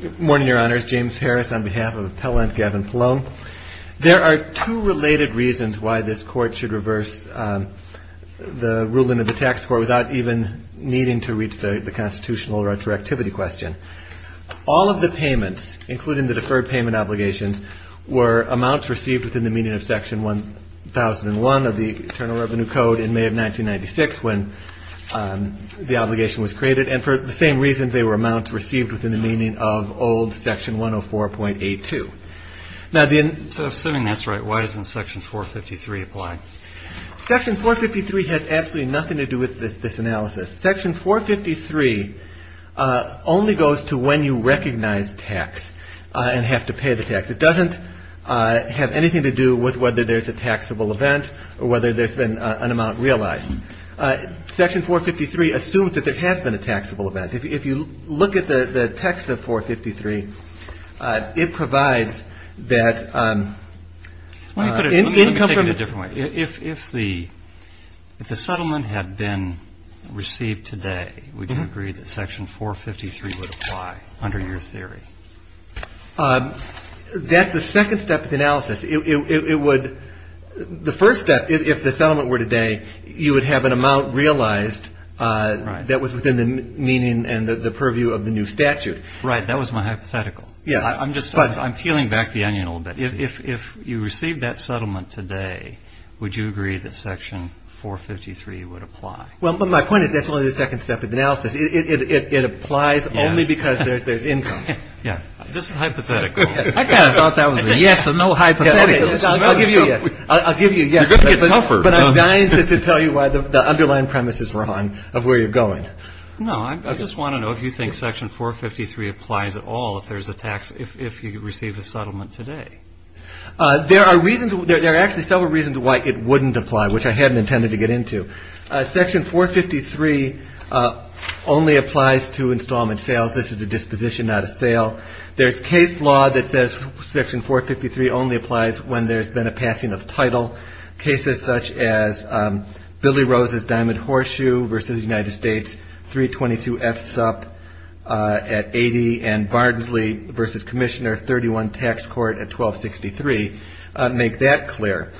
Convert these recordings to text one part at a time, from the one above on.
Good morning, Your Honors. James Harris on behalf of the appellant, Gavin Pallone. There are two related reasons why this Court should reverse the ruling of the Tax Court without even needing to reach the constitutional retroactivity question. All of the payments, including the deferred payment obligations were amounts received within the meaning of Section 1001 of the Internal Revenue Code in May of 1996 when the obligation was created, and for the same reason they were amounts received within the meaning of old Section 104.82. Now, then... So, assuming that's right, why doesn't Section 453 apply? Section 453 has absolutely nothing to do with this analysis. Section 453 only goes to when you recognize tax and have to pay the tax. It doesn't have anything to do with whether there's a taxable event or whether there's been an amount realized. Section 453 assumes that there has been a taxable event. If you look at the text of 453, it provides that... Let me take it a different way. If the settlement had been received today, would you agree that Section 453 would apply under your theory? That's the second step of the analysis. The first step, if the settlement were today, you would have an amount realized that was within the meaning and the purview of the new statute. Right. That was my hypothetical. I'm peeling back the onion a little bit. If you received that settlement today, would you agree that Section 453 would apply? Well, but my point is that's only the second step of the analysis. It applies only because there's income. Yeah. This is hypothetical. I kind of thought that was a yes, a no hypothetical. I'll give you a yes. I'll give you a yes, but I'm dying to tell you why the underlying premise is wrong of where you're going. No, I just want to know if you think Section 453 applies at all, if there's a tax, if you receive a settlement today. There are reasons. There are actually several reasons why it wouldn't apply, which I hadn't intended to get into. Section 453 only applies to installment sales. This is a disposition, not a sale. There's case law that says Section 453 only applies when there's been a passing of title, cases such as Billy Rose's Diamond Horseshoe versus the United States, 322 F SUP at 80, and Barnsley versus Commissioner 31 Tax Court at 1263. Make that clear.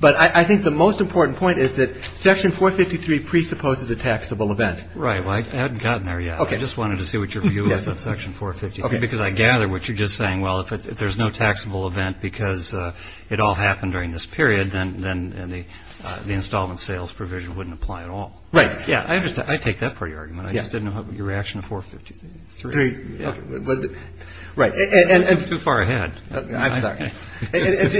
But I think the most important point is that Section 453 presupposes a taxable event. Right. Well, I hadn't gotten there yet. I just wanted to see what your view was on Section 453, because I gather what it all happened during this period, then the installment sales provision wouldn't apply at all. Right. Yeah. I understand. I take that for your argument. I just didn't know what your reaction to 453. Right. And too far ahead. I'm sorry.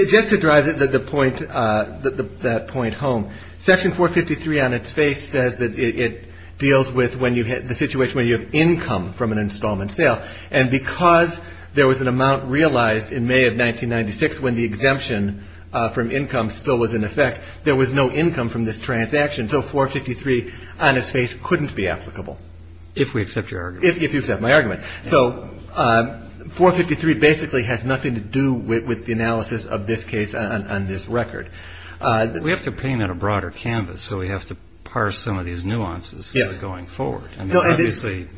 Just to drive that point home, Section 453 on its face says that it deals with when you hit the situation where you have income from an installment sale. And because there was an amount realized in May of 1996, when the exemption from income still was in effect, there was no income from this transaction. So 453 on its face couldn't be applicable. If we accept your argument. If you accept my argument. So 453 basically has nothing to do with the analysis of this case on this record. We have to paint on a broader canvas. So we have to parse some of these nuances going forward. I mean, obviously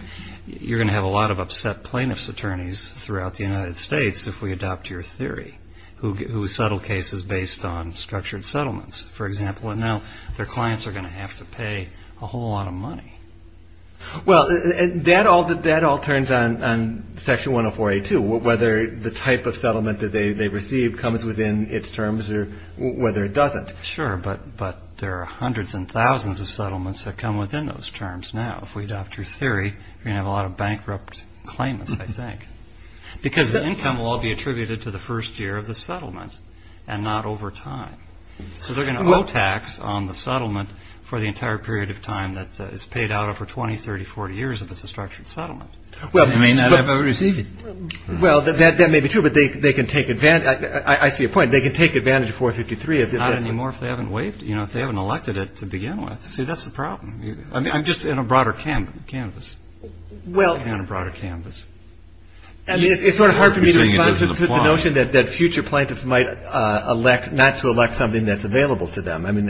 you're going to have a lot of upset plaintiff's attorneys throughout the United States if we adopt your theory, who settled cases based on structured settlements, for example. And now their clients are going to have to pay a whole lot of money. Well, that all turns on Section 104A2, whether the type of settlement that they received comes within its terms or whether it doesn't. Sure. But there are hundreds and thousands of settlements that come within those after theory, you have a lot of bankrupt claimants, I think, because the income will all be attributed to the first year of the settlement and not over time. So they're going to tax on the settlement for the entire period of time that is paid out over 20, 30, 40 years. If it's a structured settlement. Well, I mean, I've ever received it. Well, that may be true, but they can take advantage. I see a point. They can take advantage of 453. If they've got any more, if they haven't waived, you know, if they haven't elected it to begin with. See, that's the problem. I mean, I'm just in a broader canvas. Well, and a broader canvas. I mean, it's sort of hard for me to respond to the notion that future plaintiffs might elect not to elect something that's available to them. I mean,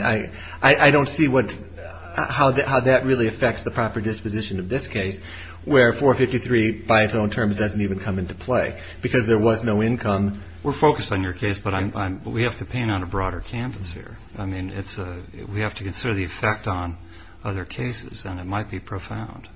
I don't see how that really affects the proper disposition of this case, where 453 by its own terms doesn't even come into play because there was no income. We're focused on your case, but we have to paint on a broader canvas here. I mean, it's a, we have to consider the effect on other cases and it might be profound,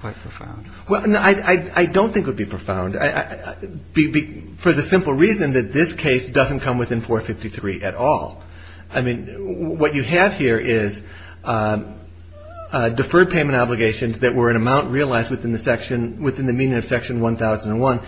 quite profound. Well, I don't think it would be profound for the simple reason that this case doesn't come within 453 at all. I mean, what you have here is deferred payment obligations that were an amount realized within the section, within the meaning of section 1001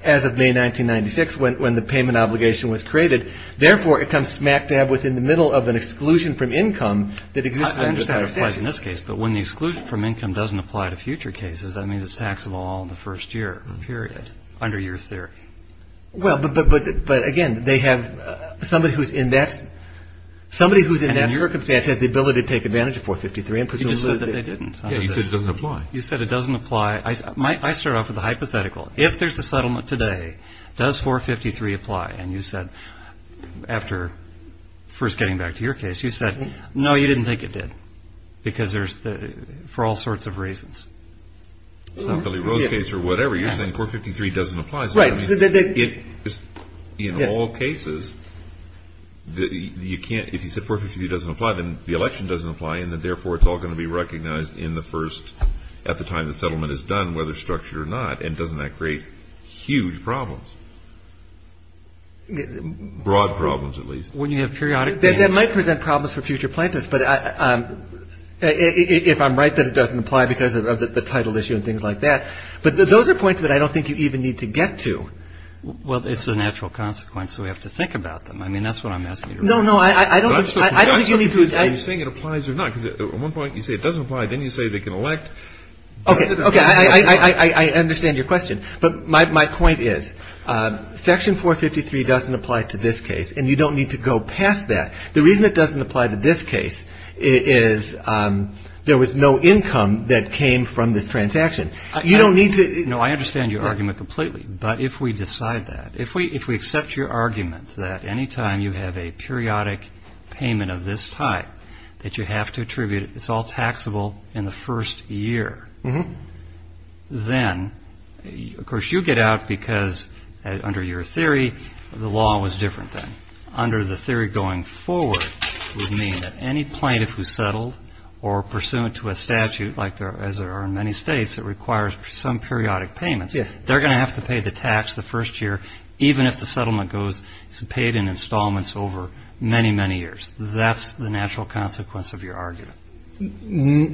as of May, 1996, when the payment obligation was created, therefore it becomes smack dab within the middle of an exclusion from income that exists out of statute. I understand that applies in this case, but when the exclusion from income doesn't apply to future cases, that means it's taxable all in the first year, period, under your theory. Well, but, but, but, but again, they have somebody who's in that, somebody who's in that circumstance has the ability to take advantage of 453. You just said that they didn't. Yeah, you said it doesn't apply. You said it doesn't apply. I start off with a hypothetical. If there's a settlement today, does 453 apply? And you said, after first getting back to your case, you said, no, you didn't think it did because there's the, for all sorts of reasons. It's not Billy Rose case or whatever. You're saying 453 doesn't apply. So in all cases, you can't, if you said 453 doesn't apply, then the election doesn't apply and that therefore it's all going to be recognized in the first, at the time the settlement is done, whether structured or not. And doesn't that create huge problems? Broad problems, at least. When you have periodic. That might present problems for future plaintiffs. But if I'm right, that it doesn't apply because of the title issue and things like that. But those are points that I don't think you even need to get to. Well, it's a natural consequence. So we have to think about them. I mean, that's what I'm asking. No, no. I don't, I don't think you need to. Are you saying it applies or not? Because at one point you say it doesn't apply. Then you say they can elect. Okay. Okay. I understand your question. But my point is Section 453 doesn't apply to this case. And you don't need to go past that. The reason it doesn't apply to this case is there was no income that came from this transaction. You don't need to. No, I understand your argument completely. But if we decide that, if we, if we accept your argument that anytime you have a periodic payment of this type that you have to attribute, it's all taxable in the first year, then of course you get out because under your theory, the law was different then. Under the theory going forward would mean that any plaintiff who settled or pursuant to a statute like there, as there are in many states, it requires some periodic payments. They're going to have to pay the tax the first year, even if the settlement goes to pay it in installments over many, many years. That's the natural consequence of your argument. I'm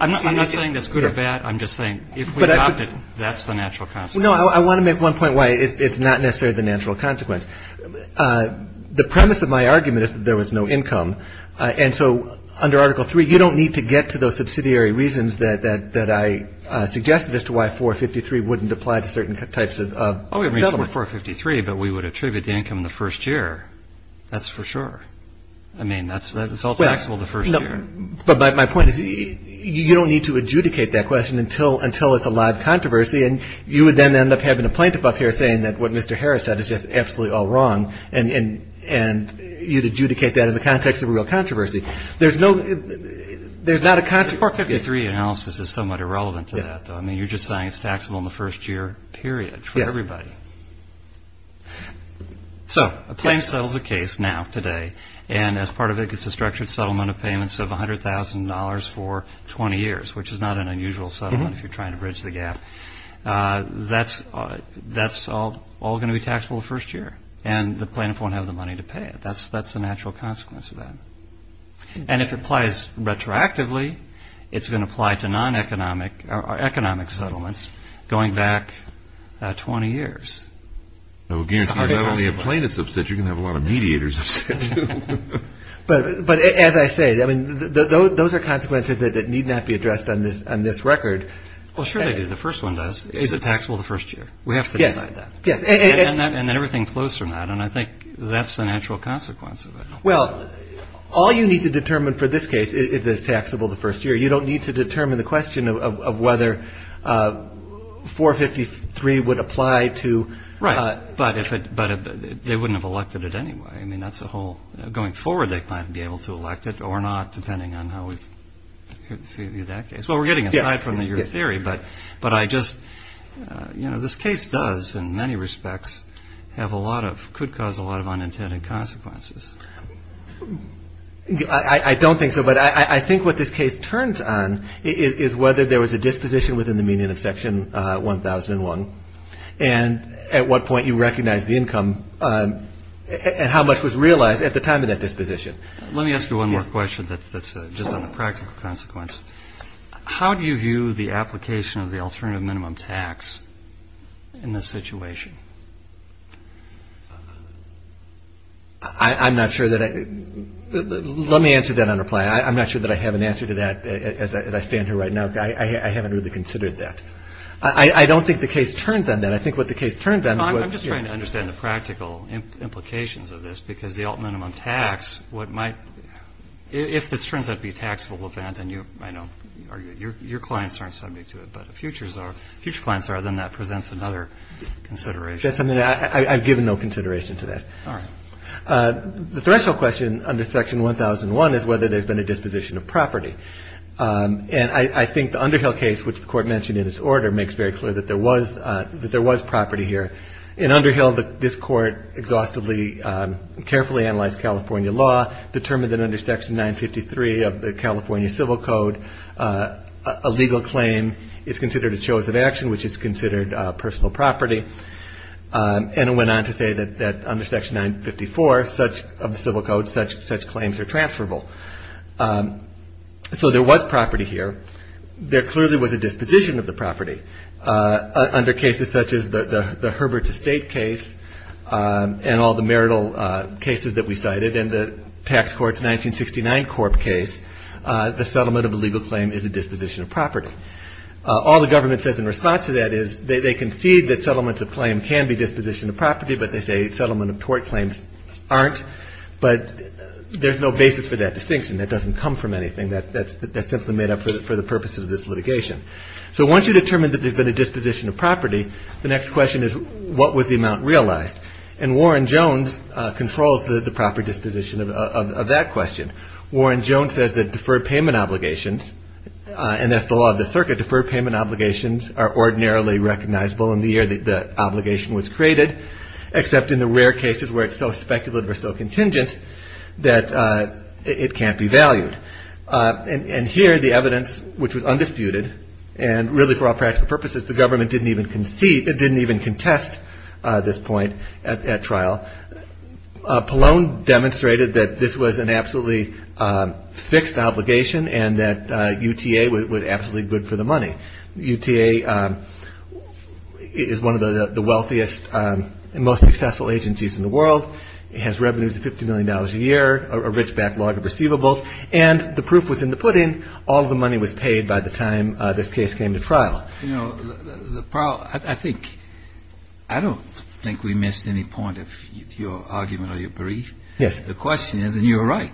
not saying that's good or bad. I'm just saying if we opted, that's the natural consequence. No, I want to make one point why it's not necessarily the natural consequence. The premise of my argument is that there was no income. And so under Article 3, you don't need to get to those subsidiary reasons that I suggested as to why 453 wouldn't apply to certain types of settlements. Well, we have 453, but we would attribute the income in the first year. That's for sure. I mean, that's all taxable the first year. But my point is, you don't need to adjudicate that question until it's a live controversy. And you would then end up having a plaintiff up here saying that what Mr. Harris said is just absolutely all wrong. And you'd adjudicate that in the context of a real controversy. There's no, there's not a controversy. The 453 analysis is somewhat irrelevant to that, though. I mean, you're just saying it's taxable in the first year period for everybody. So a plaintiff settles a case now, today, and as part of it, it's a structured settlement of payments of $100,000 for 20 years, which is not an unusual settlement if you're trying to bridge the gap. That's all going to be taxable the first year. And the plaintiff won't have the money to pay it. That's the natural consequence of that. And if it applies retroactively, it's going to apply to non-economic or economic settlements going back 20 years. Now, again, if you're not only a plaintiff's subsidiary, you're going to have a lot of mediators. But as I say, I mean, those are consequences that need not be addressed on this on this record. Well, sure they do. The first one does. Is it taxable the first year? We have to decide that. Yes. And everything flows from that. And I think that's the natural consequence of it. Well, all you need to determine for this case is that it's taxable the first year. You don't need to determine the question of whether 453 would apply to. Right. But they wouldn't have elected it anyway. I mean, that's the whole going forward. They might be able to elect it or not, depending on how we view that case. Well, we're getting a side from your theory. But but I just you know, this case does, in many respects, have a lot of could cause a lot of unintended consequences. I don't think so. But I think what this case turns on is whether there was a disposition within the median of Section 1001 and at what point you recognize the income and how much was realized at the time of that disposition. Let me ask you one more question that's just on the practical consequence. How do you view the application of the alternative minimum tax in this situation? I'm not sure that. Let me answer that on reply. I'm not sure that I have an answer to that as I stand here right now. I haven't really considered that. I don't think the case turns on that. I think what the case turns on. I'm just trying to understand the practical implications of this, because the minimum tax, what might if this turns out to be a taxable event and you know, your clients aren't subject to it, but the futures are huge clients are, then that presents another consideration. I've given no consideration to that. The threshold question under Section 1001 is whether there's been a disposition of property. And I think the Underhill case, which the court mentioned in its order, makes very clear that there was that there was property here. In Underhill, this court exhaustively, carefully analyzed California law, determined that under Section 953 of the California Civil Code, a legal claim is considered a choice of action, which is considered personal property. And it went on to say that under Section 954 of the Civil Code, such claims are transferable. So there was property here. There clearly was a disposition of the property. Under cases such as the Herbert Estate case and all the marital cases that we cited and the tax court's 1969 Corp case, the settlement of a legal claim is a disposition of property. All the government says in response to that is they concede that settlements of claim can be disposition of property, but they say settlement of tort claims aren't. But there's no basis for that distinction. That doesn't come from anything that's simply made up for the purpose of this disposition of property. The next question is, what was the amount realized? And Warren Jones controls the proper disposition of that question. Warren Jones says that deferred payment obligations, and that's the law of the circuit, deferred payment obligations are ordinarily recognizable in the year that the obligation was created, except in the rare cases where it's so speculative or so contingent that it can't be valued. And here the evidence, which was undisputed and really for all practical purposes, the government didn't even concede, it didn't even contest this point at trial. Pallone demonstrated that this was an absolutely fixed obligation and that UTA was absolutely good for the money. UTA is one of the wealthiest and most successful agencies in the world. It has revenues of $50 million a year, a rich backlog of receivables. And the proof was in the pudding. All the money was paid by the time this case came to trial. You know, the problem, I think, I don't think we missed any point of your argument or your brief. Yes. The question is, and you're right,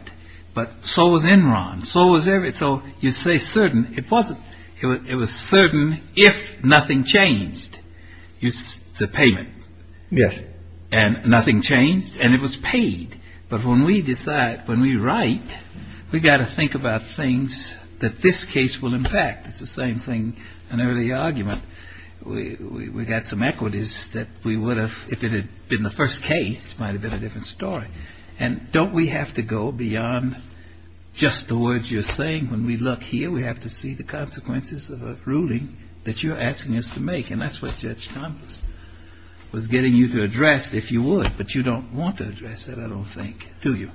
but so was Enron, so was every, so you say certain. It wasn't. It was certain if nothing changed, the payment. Yes. And nothing changed and it was paid. But when we decide, when we write, we've got to think about things that this case will impact. It's the same thing. An early argument. We got some equities that we would have if it had been the first case, might have been a different story. And don't we have to go beyond just the words you're saying? When we look here, we have to see the consequences of a ruling that you're asking us to make. And that's what Judge Thomas was getting you to address, if you would. But you don't want to address that at all. Think, do you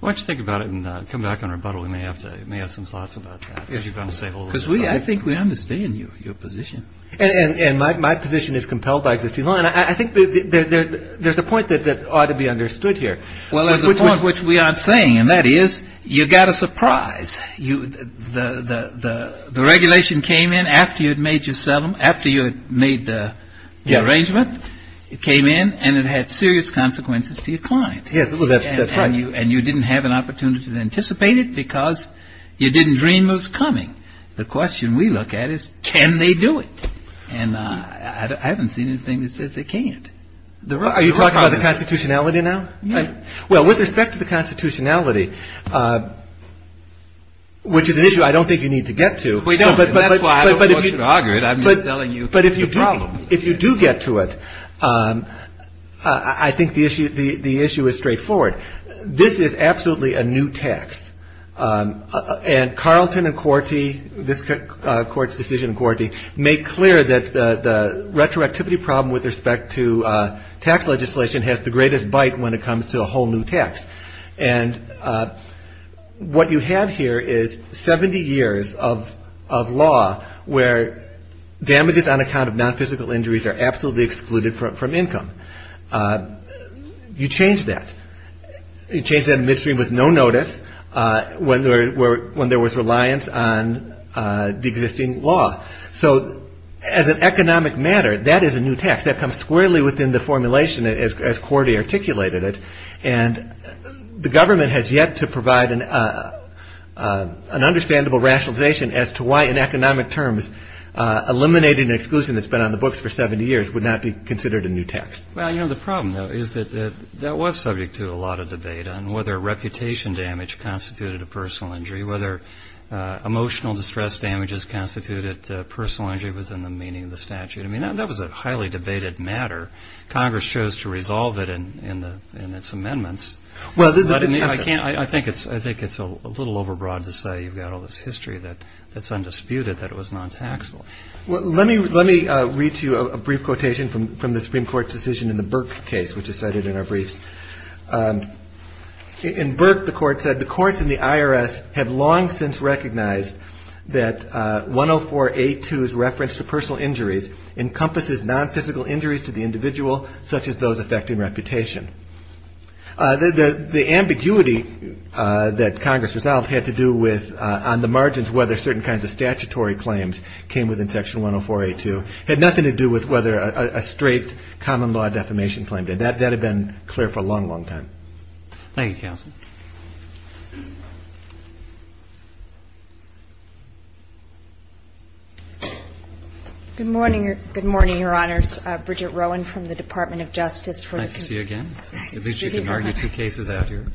want to think about it and come back on rebuttal? We may have to may have some thoughts about it because we I think we understand you, your position. And my position is compelled by existing line. I think that there's a point that that ought to be understood here. Well, at the point which we aren't saying, and that is you got a surprise. You the the the regulation came in after you had made yourself after you had made the arrangement. It came in and it had serious consequences to your client. Yes, that's right. And you didn't have an opportunity to anticipate it because you didn't dream it was coming. The question we look at is, can they do it? And I haven't seen anything that says they can't. Are you talking about the constitutionality now? Well, with respect to the constitutionality, which is an issue I don't think you need to get to. We don't. But I don't want you to argue it, I'm just telling you. But if you do, if you do get to it, I think the issue, the issue is straightforward. This is absolutely a new tax. And Carlton and Cortee, this court's decision, Cortee make clear that the retroactivity problem with respect to tax legislation has the greatest bite when it comes to a whole new tax. And what you have here is 70 years of of law where damages on a count of non-physical injuries are absolutely excluded from income. You change that. You change that in midstream with no notice when there were when there was reliance on the existing law. So as an economic matter, that is a new tax that comes squarely within the formulation as Cortee articulated it. And the government has yet to provide an understandable rationalization as to why in the reason it's been on the books for 70 years would not be considered a new tax. Well, you know, the problem, though, is that that was subject to a lot of debate on whether reputation damage constituted a personal injury, whether emotional distress damages constituted personal injury within the meaning of the statute. I mean, that was a highly debated matter. Congress chose to resolve it in the in its amendments. Well, I can't I think it's I think it's a little overbroad to say you've got all this history that that's undisputed, that it was non-taxable. Well, let me let me read to you a brief quotation from from the Supreme Court's decision in the Burke case, which is cited in our briefs in Burke. The court said the courts in the IRS have long since recognized that one or four eight twos reference to personal injuries encompasses nonphysical injuries to the individual, such as those affecting reputation. The ambiguity that Congress resolved had to do with on the margins, whether certain kinds of statutory claims came within section one or four, a two had nothing to do with whether a straight common law defamation claim that that had been clear for a long, long time. Thank you, counsel. Good morning. Good morning, Your Honors. Bridget Rowan from the Department of Justice for the city again. At least you can argue two cases out here.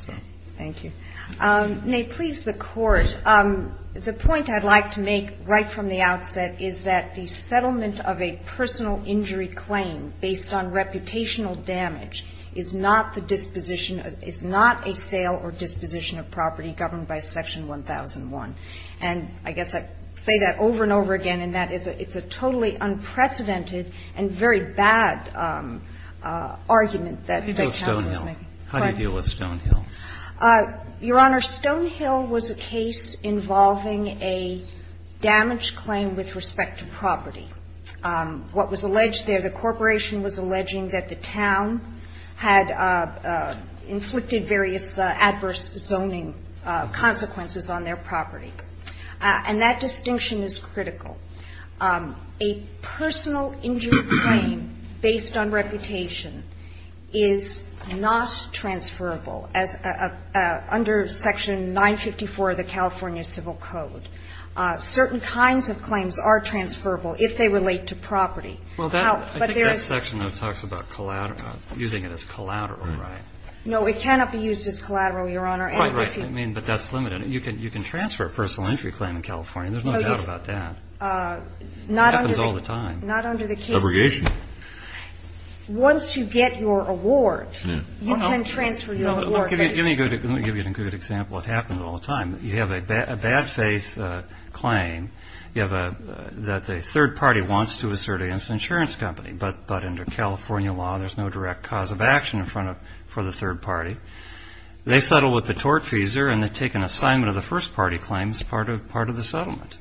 Thank you. May please the court. The point I'd like to make right from the outset is that the settlement of a personal injury claim based on reputational damage is not the disposition is not a sale or disposition of property governed by Section 1001. And I guess I say that over and over again, and that is it's a totally unprecedented and very bad argument that. How do you deal with Stonehill? Your Honor, Stonehill was a case involving a damaged claim with respect to property. What was alleged there, the corporation was alleging that the town had inflicted various adverse zoning consequences on their property. And that distinction is critical. A personal injury claim based on reputation is not transferable as a settlement under Section 954 of the California Civil Code. Certain kinds of claims are transferable if they relate to property. Well, that section that talks about collateral, using it as collateral, right? No, it cannot be used as collateral, Your Honor. Right, right. I mean, but that's limited. You can you can transfer a personal injury claim in California. There's no doubt about that. Not all the time. Not under the case. Once you get your award, you can transfer your award. Let me give you a good example. It happens all the time. You have a bad faith claim. You have a that the third party wants to assert against an insurance company, but under California law, there's no direct cause of action in front of for the third party. They settle with the tortfeasor and they take an assignment of the first party claims as part of part of the settlement.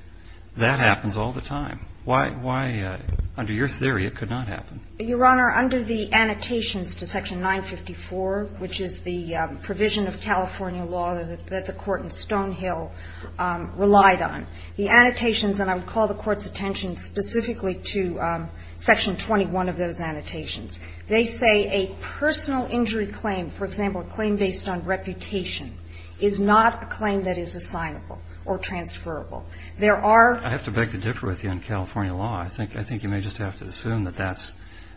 That happens all the time. Why, under your theory, it could not happen? Your Honor, under the annotations to Section 954, which is the provision of California law that the Court in Stonehill relied on, the annotations, and I would call the Court's attention specifically to Section 21 of those annotations, they say a personal injury claim, for example, a claim based on reputation, is not a claim that is assignable or transferable. There are. I have to beg to differ with you on California law. I think I think you may just have to assume that that's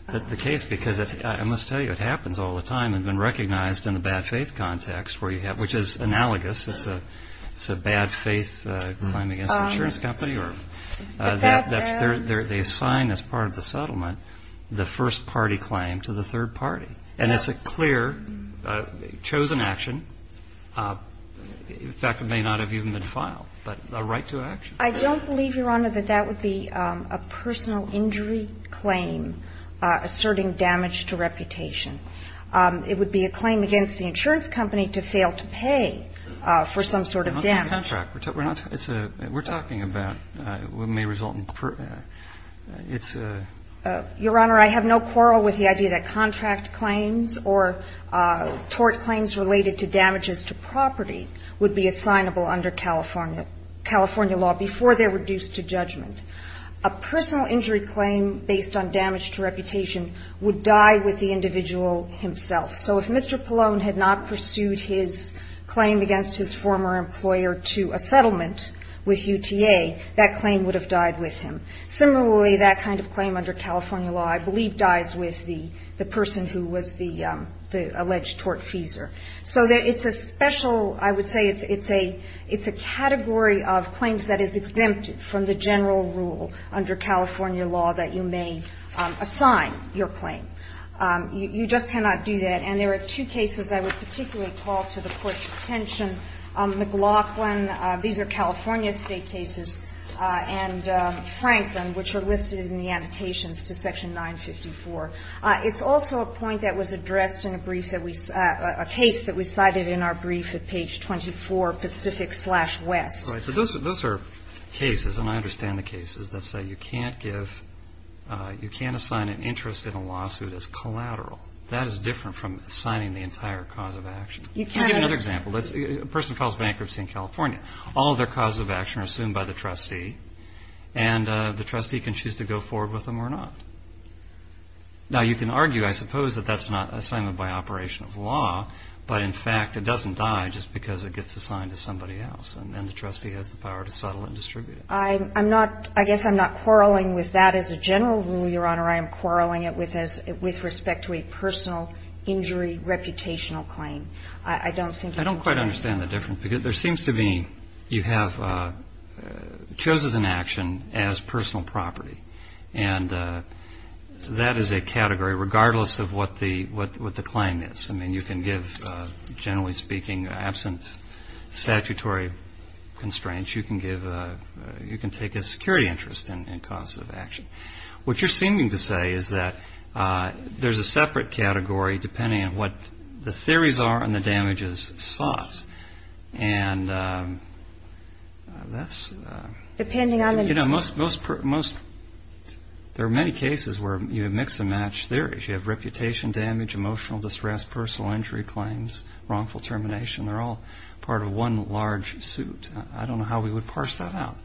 the case, because I must tell you, it happens all the time and been recognized in the bad faith context where you have, which is analogous. It's a it's a bad faith claim against an insurance company or that they're they're they assign as part of the settlement the first party claim to the third party. And it's a clear chosen action. In fact, it may not have even been filed, but a right to action. I don't believe, Your Honor, that that would be a personal injury claim asserting damage to reputation. It would be a claim against the insurance company to fail to pay for some sort of damage. We're talking about what may result in, it's a Your Honor, I have no quarrel with the idea that contract claims or tort claims related to damages to property would be assignable under California California law before they're reduced to judgment. A personal injury claim based on damage to reputation would die with the individual himself. So if Mr. Pallone had not pursued his claim against his former employer to a settlement with UTA, that claim would have died with him. Similarly, that kind of claim under California law, I believe, dies with the the person who was the the alleged tortfeasor. So it's a special, I would say it's a it's a category of claims that is exempt from the general rule under California law that you may assign your claim. You just cannot do that. And there are two cases I would particularly call to the Court's attention. McLaughlin, these are California state cases, and Franklin, which are listed in the annotations to Section 954. It's also a point that was addressed in a brief that we a case that we cited in our brief at page 24, Pacific slash West. Right. But those are those are cases and I understand the cases that say you can't give you can't assign an interest in a lawsuit as collateral. That is different from signing the entire cause of action. You can't give another example. That's a person files bankruptcy in California. All of their causes of action are assumed by the trustee and the trustee can choose to go forward with them or not. Now, you can argue, I suppose, that that's not a sign of my operation of law, but in fact, it doesn't die just because it gets assigned to somebody else. And then the trustee has the power to settle and distribute. I'm not I guess I'm not quarreling with that as a general rule, Your Honor. I am quarreling it with as with respect to a personal injury, reputational claim. I don't think I don't quite understand the difference, because there seems to be you have chosen an action as personal property. And that is a category, regardless of what the what the claim is. I mean, you can give, generally speaking, absent statutory constraints. You can give you can take a security interest in causes of action. What you're seeming to say is that there's a separate category depending on what the theories are and the damages sought. And that's depending on, you know, most most most there are many cases where you mix and match theories. You have reputation damage, emotional distress, personal injury claims, wrongful termination. They're all part of one large suit. I don't know how we would parse that out.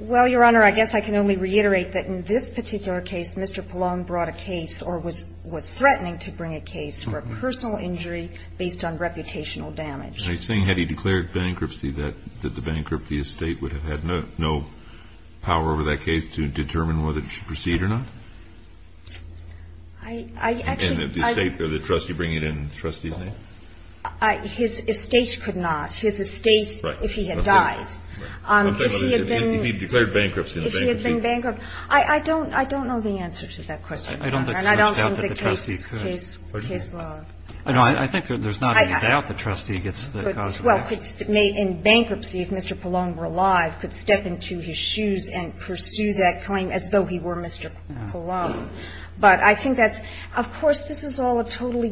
Well, Your Honor, I guess I can only reiterate that in this particular case, Mr. Pallone brought a case or was was threatening to bring a case for a personal injury based on reputational damage. Are you saying had he declared bankruptcy that that the bankruptcy estate would have had no no power over that case to determine whether to proceed or not? I actually I think the trustee bring it in trustee's name. His estate could not. His estate, if he had died, if he had been declared bankruptcy, if he had been bankrupt. I don't I don't know the answer to that question. I don't think the trustee's case is his law. I know. I think there's not a doubt the trustee gets. Well, it's made in bankruptcy. If Mr. Pallone were alive, could step into his shoes and pursue that claim as though he were Mr. Pallone. But I think that's of course, this is all a totally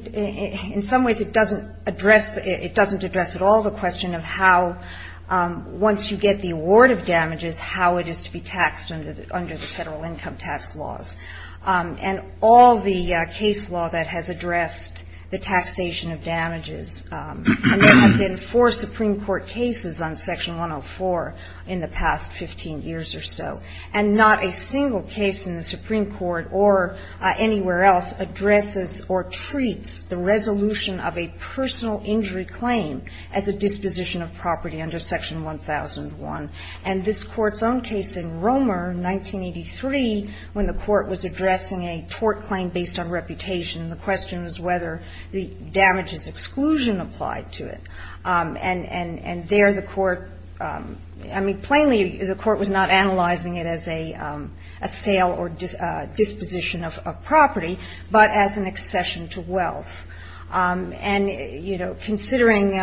in some ways it doesn't address it doesn't address at all the question of how once you get the award of damages, how it is to be taxed under the federal income tax laws and all the case law that has addressed the taxation of damages. And there have been four Supreme Court cases on Section 104 in the past 15 years or so, and not a single case in the Supreme Court or anywhere else addresses or treats the resolution of a personal injury claim as a disposition of property under Section 1001. And this Court's own case in Romer, 1983, when the Court was addressing a tort claim based on reputation, the question was whether the damages exclusion applied to it. And there the Court, I mean, plainly the Court was not analyzing it as a sale or disposition of property, but as an accession to wealth. And, you know, considering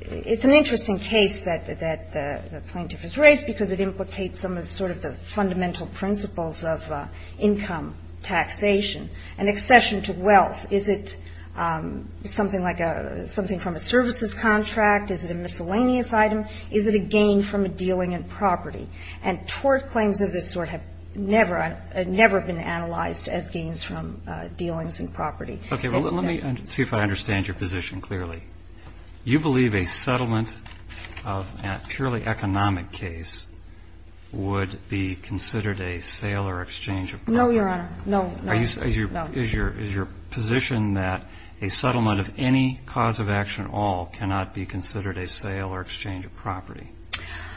it's an interesting case that the plaintiff has raised because it implicates some of sort of the fundamental principles of income taxation and accession to wealth. Is it something like a – something from a services contract? Is it a miscellaneous item? Is it a gain from a dealing in property? And tort claims of this sort have never – have never been analyzed as gains from dealings in property. Roberts. Okay. Well, let me see if I understand your position clearly. You believe a settlement of a purely economic case would be considered a sale or exchange of property? No, Your Honor. No. No. No. Is your – is your position that a settlement of any cause of action at all cannot be considered a sale or exchange of property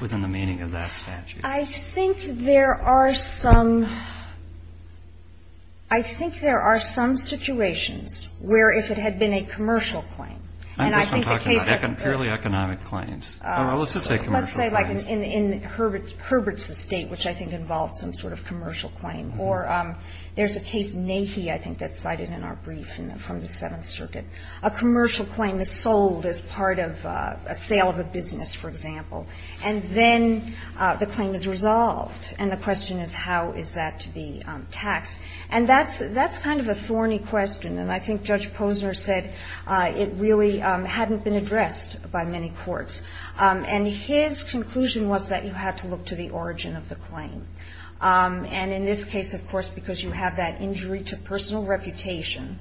within the meaning of that statute? I think there are some – I think there are some situations where if it had been a commercial claim. I think I'm talking about purely economic claims. Let's just say commercial claims. Let's say like in Herbert's estate, which I think involved some sort of commercial claim. Or there's a case, Nahee, I think that's cited in our brief from the Seventh Circuit. A commercial claim is sold as part of a sale of a business, for example. And then the claim is resolved, and the question is how is that to be taxed. And that's – that's kind of a thorny question, and I think Judge Posner said it really hadn't been addressed by many courts. And his conclusion was that you had to look to the origin of the claim. And in this case, of course, because you have that injury to personal reputation,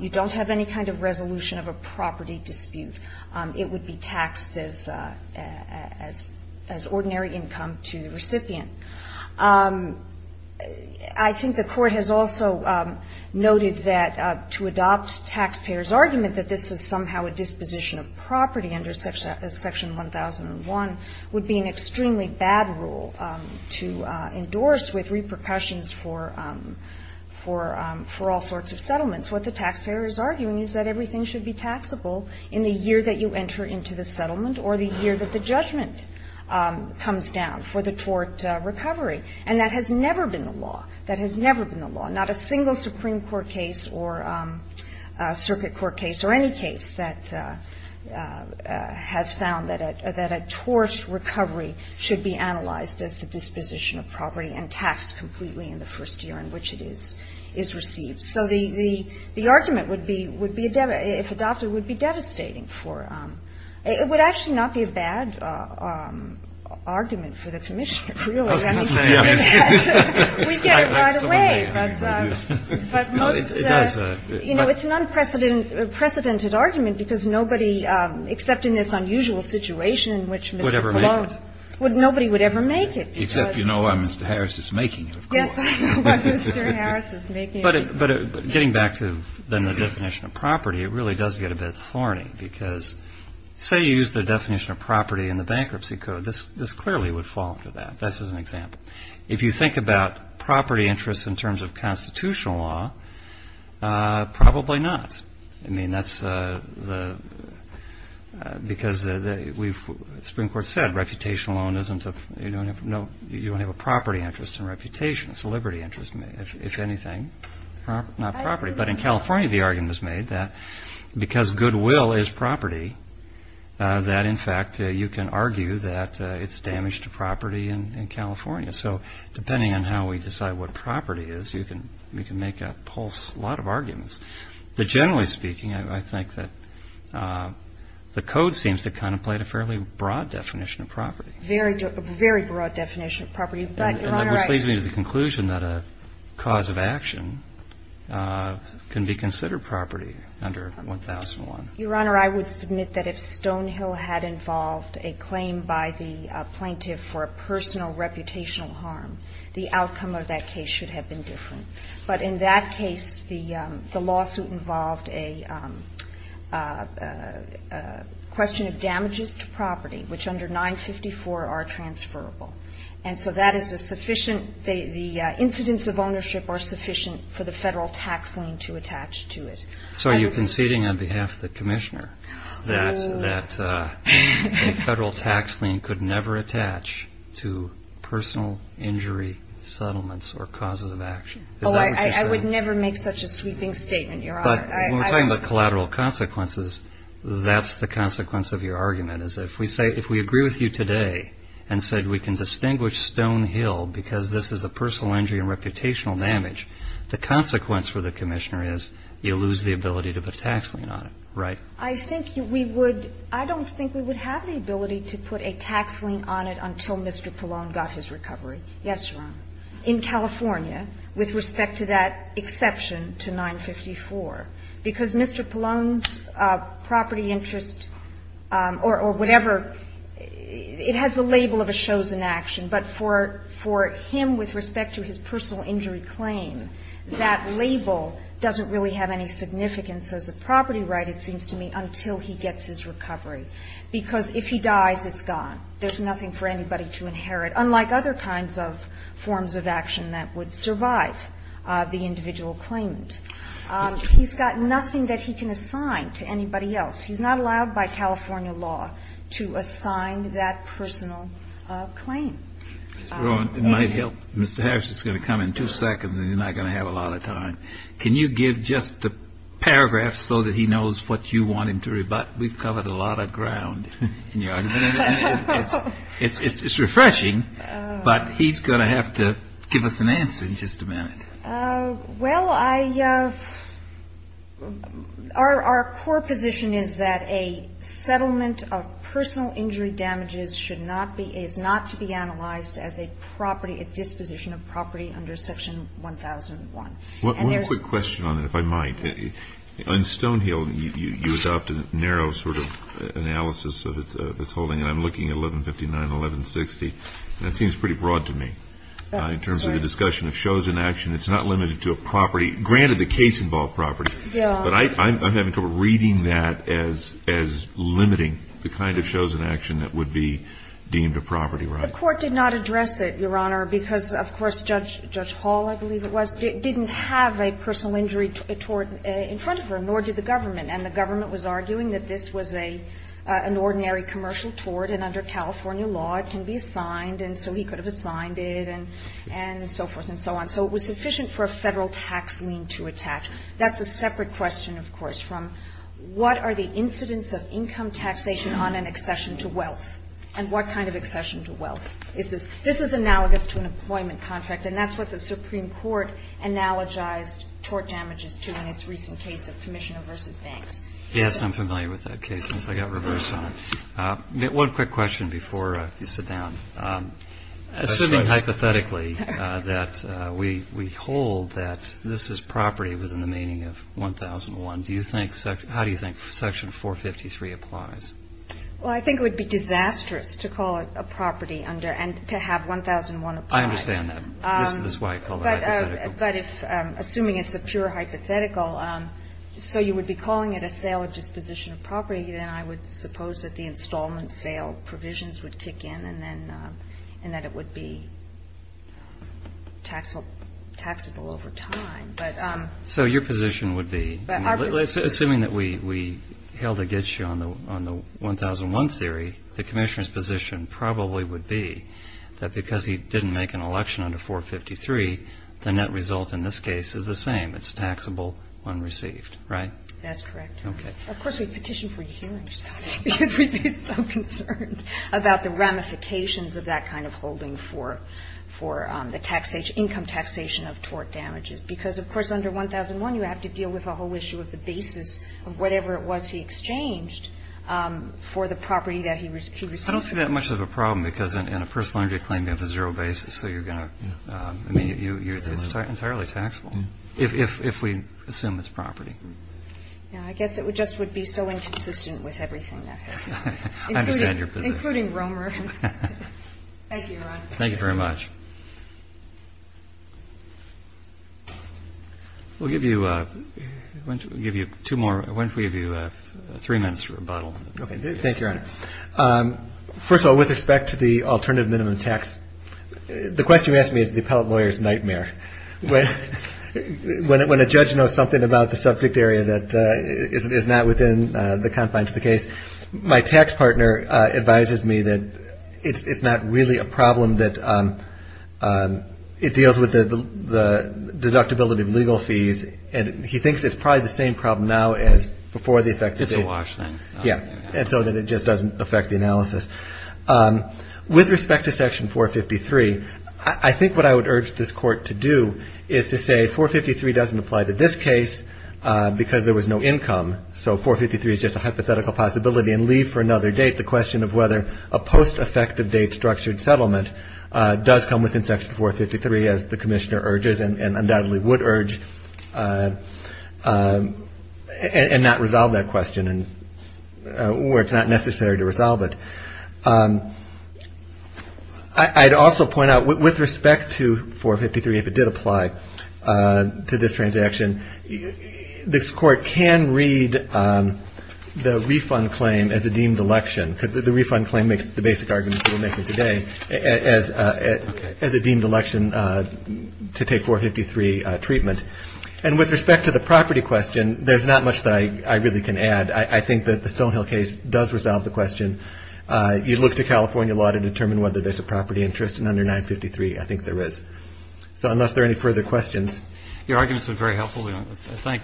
you don't have any kind of resolution of a property dispute. It would be taxed as – as ordinary income to the recipient. I think the Court has also noted that to adopt taxpayers' argument that this is a disposition of property under Section 1001 would be an extremely bad rule to endorse with repercussions for – for all sorts of settlements. What the taxpayer is arguing is that everything should be taxable in the year that you enter into the settlement or the year that the judgment comes down for the tort recovery. And that has never been the law. That has never been the law. Not a single Supreme Court case or circuit court case or any case that has found that a – that a tort recovery should be analyzed as the disposition of property and taxed completely in the first year in which it is – is received. So the – the argument would be – would be a – if adopted, would be devastating for – it would actually not be a bad argument for the Commissioner, really. We get it right away, but most – you know, it's an unprecedented argument because nobody, except in this unusual situation in which Mr. Pallone – Would ever make it. Nobody would ever make it. Except you know why Mr. Harris is making it, of course. Yes, why Mr. Harris is making it. But getting back to then the definition of property, it really does get a bit thorny because say you use the definition of property in the bankruptcy code, this – this clearly would fall into that. This is an example. If you think about property interests in terms of constitutional law, probably not. I mean that's the – because the – we've – the Supreme Court said reputation alone isn't a – you don't have no – you don't have a property interest in reputation, it's a liberty interest if anything, not property. But in California the argument was made that because goodwill is property, that in fact you can argue that it's damage to property in California. So depending on how we decide what property is, you can – we can make a whole slot of arguments. But generally speaking, I think that the code seems to contemplate a fairly broad definition of property. Very broad definition of property, but, Your Honor, I – Which leads me to the conclusion that a cause of action can be considered property under 1001. Your Honor, I would submit that if Stonehill had involved a claim by the plaintiff for a personal reputational harm, the outcome of that case should have been different. But in that case, the lawsuit involved a question of damages to property, which under 954 are transferable. And so that is a sufficient – the incidents of ownership are sufficient for the Federal tax lien to attach to it. So are you conceding on behalf of the Commissioner that a Federal tax lien could never attach to personal injury settlements or causes of action? Oh, I would never make such a sweeping statement, Your Honor. But when we're talking about collateral consequences, that's the consequence of your argument, is if we say – if we agree with you today and said we can distinguish Stonehill because this is a personal injury and reputational damage, the consequence for the Commissioner is you lose the ability to put a tax lien on it, right? I think we would – I don't think we would have the ability to put a tax lien on it until Mr. Pallone got his recovery, yes, Your Honor, in California with respect to that exception to 954, because Mr. Pallone's property interest or whatever, it has the label of a chosen action, but for him with respect to his personal injury claim, that label doesn't really have any significance as a property right, it seems to me, until he gets his recovery, because if he dies, it's gone. There's nothing for anybody to inherit, unlike other kinds of forms of action that would survive the individual claimant. He's got nothing that he can assign to anybody else. He's not allowed by California law to assign that personal claim. Mr. Rowan, it might help. Mr. Harris is going to come in two seconds, and you're not going to have a lot of time. Can you give just a paragraph so that he knows what you want him to rebut? We've covered a lot of ground in your argument. It's refreshing, but he's going to have to give us an answer in just a minute. Well, I – our core position is that a settlement of personal injury damages should not be – is not to be analyzed as a property – a disposition of property under Section 1001. One quick question on that, if I might. On Stonehill, you adopted a narrow sort of analysis of its holding, and I'm looking at 1159 and 1160. That seems pretty broad to me in terms of the discussion of chosen action. It's not limited to a property. Granted, the case involved property. Yeah. But I'm having trouble reading that as limiting the kind of chosen action that would be deemed a property right. The Court did not address it, Your Honor, because, of course, Judge Hall, I believe it was, didn't have a personal injury tort in front of him, nor did the government. And the government was arguing that this was an ordinary commercial tort, and under California law, it can be assigned, and so he could have assigned it, and so forth and so on. So it was sufficient for a federal tax lien to attach. That's a separate question, of course, from what are the incidents of income taxation on an accession to wealth, and what kind of accession to wealth is this? This is analogous to an employment contract, and that's what the Supreme Court analogized tort damages to in its recent case of Commissioner v. Banks. Yes, and I'm familiar with that case, since I got reversed on it. One quick question before you sit down. Assuming hypothetically that we hold that this is property within the meaning of 1001, do you think section, how do you think section 453 applies? Well, I think it would be disastrous to call it a property under, and to have 1001 apply. I understand that. This is why I called it hypothetical. But if, assuming it's a pure hypothetical, so you would be calling it a sale or disposition of property, then I would suppose that the installment sale provisions would kick in, and then, and that it would be taxable over time. So your position would be, assuming that we held against you on the 1001 theory, the Commissioner's position probably would be that because he didn't make an election under 453, the net result in this case is the same. It's taxable when received, right? That's correct. Okay. Of course, we petition for your hearing, because we'd be so concerned about the ramifications of that kind of holding for the income taxation of tort damages, because, of course, under 1001, you have to deal with the whole issue of the basis of whatever it was he exchanged for the property that he received. I don't see that much of a problem, because in a personal injury claim, you have a zero basis, so you're going to, I mean, it's entirely taxable, if we assume it's property. I guess it just would be so inconsistent with everything that goes on. I understand your position. Including Romer. Thank you, Your Honor. Thank you very much. We'll give you two more. Why don't we give you three minutes for rebuttal? Thank you, Your Honor. First of all, with respect to the alternative minimum tax, the question you ask me is the appellate lawyer's nightmare. When a judge knows something about the subject area that is not within the confines of the statute, it deals with the deductibility of legal fees, and he thinks it's probably the same problem now as before the effective date. It's a wash, then. Yeah. And so then it just doesn't affect the analysis. With respect to Section 453, I think what I would urge this Court to do is to say 453 doesn't apply to this case, because there was no income, so 453 is just a hypothetical possibility and leave for another date. The question of whether a post-effective date structured settlement does come within Section 453, as the Commissioner urges, and undoubtedly would urge, and not resolve that question where it's not necessary to resolve it. I'd also point out, with respect to 453, if it did apply to this transaction, this Court can read the refund claim as a deemed election, because the refund claim makes the basic argument that we're making today, as a deemed election to take 453 treatment. And with respect to the property question, there's not much that I really can add. I think that the Stonehill case does resolve the question. You look to California law to determine whether there's a property interest, and under 953, I think there is. So unless there are any further questions. Your arguments have been very helpful. Thank you.